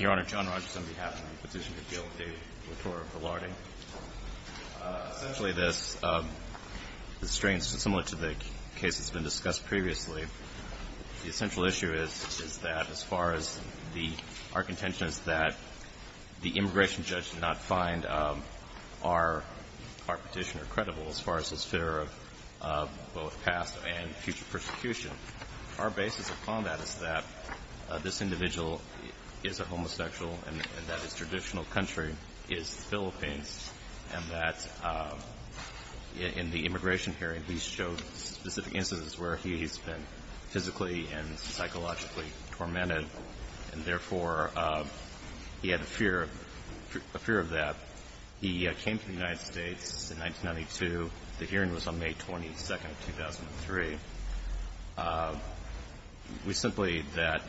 Your Honor, John Rogerson on behalf of the Petitioner's Appeal with David Latorre of Verlarde. Essentially, this restraints, similar to the case that's been discussed previously, the essential issue is that as far as our contention is that the immigration judge did not find our petitioner credible as far as his fear of both past and future persecution. Our basis upon that is that this individual is a homosexual and that his traditional country is the Philippines and that in the immigration hearing he showed specific instances where he's been physically and psychologically tormented and, therefore, he had a fear of that. He came to the United States in 1992. The hearing was on May 22nd, 2003. We simply that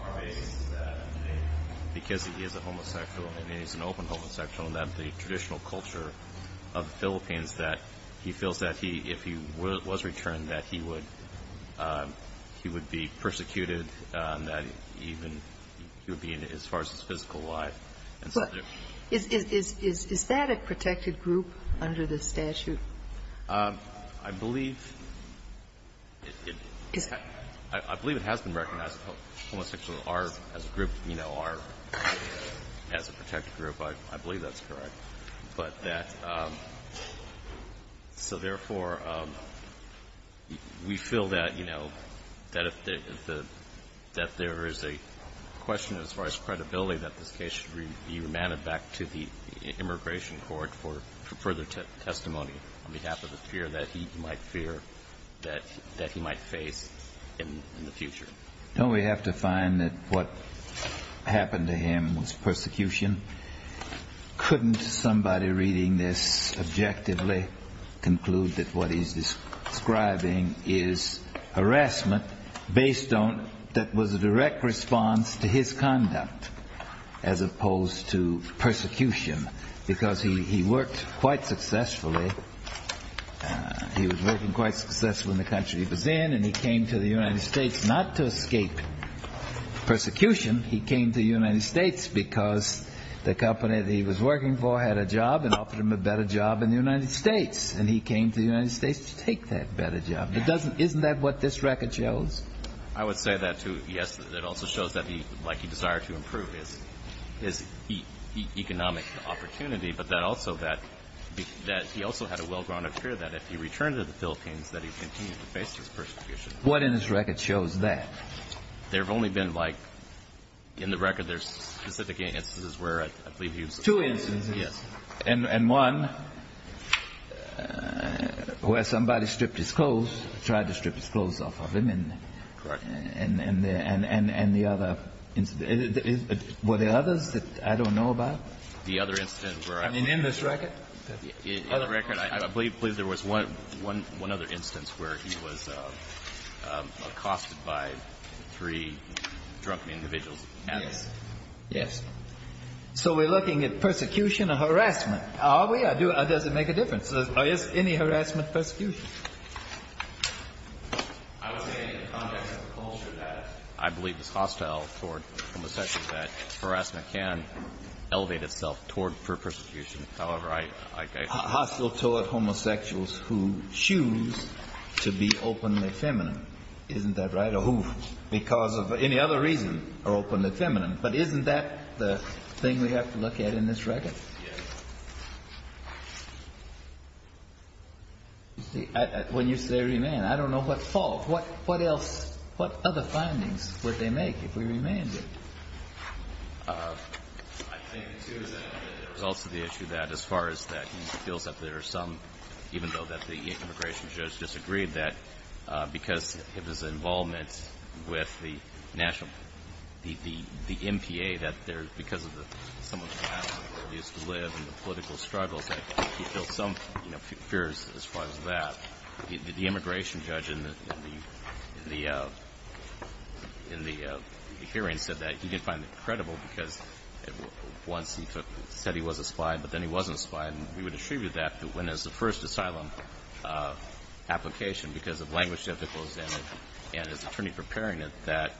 our basis is that because he is a homosexual and he's an open homosexual and that the traditional culture of the Philippines that he feels that he, if he was returned, that he would be persecuted, that even he would be, as far as his physical life. Is that a protected group under the statute? I believe it has been recognized that homosexuals are, as a group, you know, are as a protected group. I believe that's correct. But that so, therefore, we feel that, you know, that there is a question as far as credibility that this case should be remanded back to the immigration court for further testimony on behalf of the fear that he might fear that he might face in the future. Don't we have to find that what happened to him was persecution? Couldn't somebody reading this objectively conclude that what he's describing is harassment based on that was a direct response to his conduct as opposed to persecution? Because he worked quite successfully. He was working quite successfully in the country he was in and he came to the United States not to escape persecution. He came to the United States because the company that he was working for had a job and offered him a better job in the United States. And he came to the United States to take that better job. Isn't that what this record shows? I would say that, too. Yes. It also shows that he, like he desired to improve his economic opportunity, but that also that he also had a well-grounded fear that if he returned to the Philippines that he'd continue to face this persecution. What in this record shows that? There have only been, like, in the record there's specific instances where I believe he was Two instances. Yes. And one where somebody stripped his clothes, tried to strip his clothes off of him. Correct. And the other. Were there others that I don't know about? The other instance where I believe. I mean, in this record? In the record, I believe there was one other instance where he was accosted by three drunken individuals. Yes. Yes. So we're looking at persecution or harassment. Are we? Does it make a difference? Is any harassment persecution? I would say in the context of the culture that I believe is hostile toward homosexuals that harassment can elevate itself toward persecution. However, I. Hostile toward homosexuals who choose to be openly feminine. Isn't that right? Or who, because of any other reason, are openly feminine. But isn't that the thing we have to look at in this record? Yes. When you say remand, I don't know what's false. What else, what other findings would they make if we remanded? I think, too, that there's also the issue that as far as that he feels that there are some, even though that the immigration judge disagreed, that because of his involvement with the national, the MPA, that there's, because of the, some of the houses where he used to live and the political struggles, that he feels some fears as far as that. The immigration judge in the hearing said that he didn't find it credible because once he said he was a spy, but then he wasn't a spy. And we would attribute that to when there's the first asylum application because of language difficulties and his attorney preparing it, that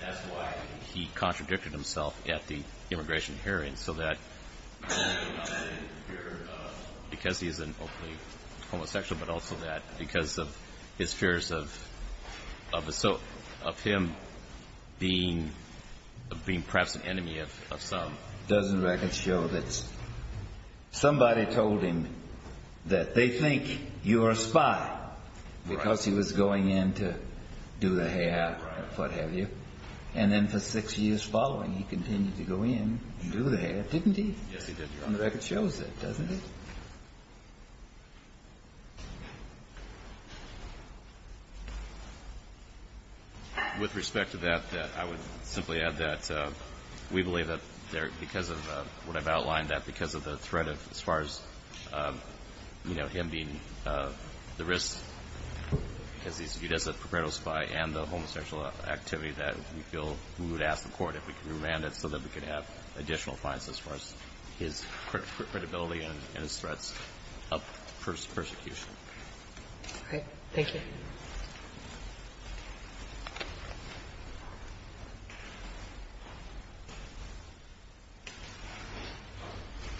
that's why he contradicted himself at the immigration hearing, so that not only did he fear because he's an openly homosexual, but also that because of his fears of him being perhaps an enemy of some. Doesn't the record show that somebody told him that they think you're a spy because he was going in to do the hair, what have you, and then for six years following, he continued to go in and do the hair, didn't he? Yes, he did, Your Honor. And the record shows that, doesn't it? With respect to that, I would simply add that we believe that because of what I've outlined, that because of the threat as far as him being the risk, because he's a perpetual spy and the homosexual activity, that we feel we would ask the court if we could remand him so that we could have additional fines as far as his credibility and his threats. All right. Thank you.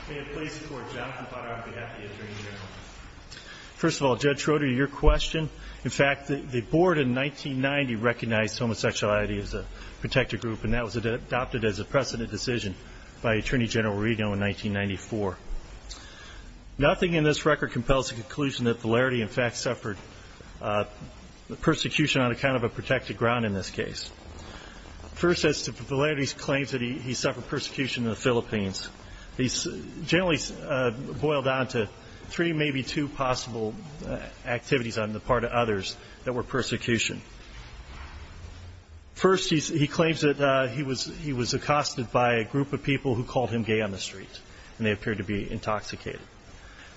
May it please the Court. Jonathan Potter on behalf of the Attorney General. First of all, Judge Schroeder, your question. In fact, the Board in 1990 recognized homosexuality as a protected group, and that was adopted as a precedent decision by Attorney General Rego in 1994. Nothing in this record compels the conclusion that Valerity, in fact, suffered persecution on account of a protected ground in this case. First, as to Valerity's claims that he suffered persecution in the Philippines, these generally boil down to three, maybe two, possible activities on the part of others that were persecution. First, he claims that he was accosted by a group of people who called him gay on the street, and they appeared to be intoxicated.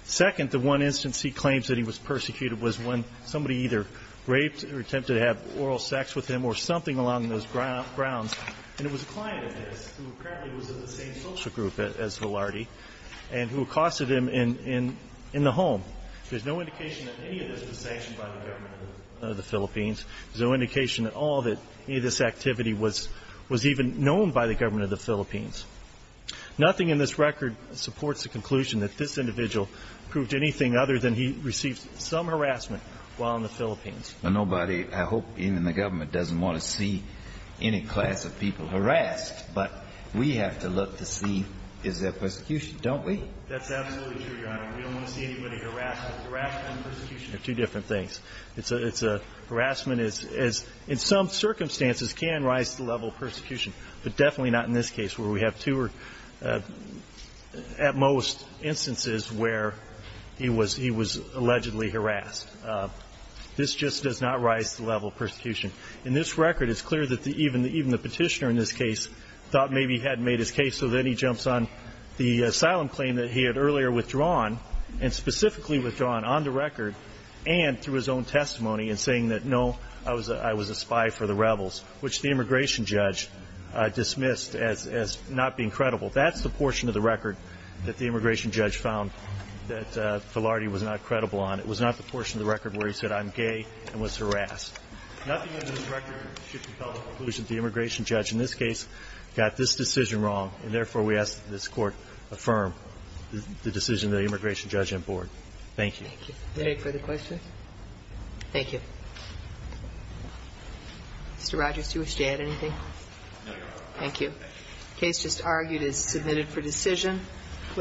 Second, the one instance he claims that he was persecuted was when somebody either raped or attempted to have oral sex with him or something along those grounds. And it was a client of his who apparently was in the same social group as Valerity and who accosted him in the home. There's no indication that any of this was sanctioned by the government of the Philippines. There's no indication at all that any of this activity was even known by the government of the Philippines. Nothing in this record supports the conclusion that this individual proved anything other than he received some harassment while in the Philippines. But nobody, I hope even the government, doesn't want to see any class of people harassed. But we have to look to see is there persecution, don't we? That's absolutely true, Your Honor. We don't want to see anybody harassed. Harassment and persecution are two different things. But definitely not in this case where we have two, at most, instances where he was allegedly harassed. This just does not rise to the level of persecution. In this record, it's clear that even the petitioner in this case thought maybe he hadn't made his case, so then he jumps on the asylum claim that he had earlier withdrawn and specifically withdrawn on the record and through his own testimony and saying that, no, I was a spy for the rebels, which the immigration judge dismissed as not being credible. That's the portion of the record that the immigration judge found that Filardi was not credible on. It was not the portion of the record where he said, I'm gay and was harassed. Nothing in this record should compel the conclusion that the immigration judge in this case got this decision wrong, and therefore we ask that this Court affirm the decision of the immigration judge and board. Thank you. Thank you. Any further questions? Thank you. Mr. Rogers, do you wish to add anything? No, Your Honor. Thank you. The case just argued is submitted for decision.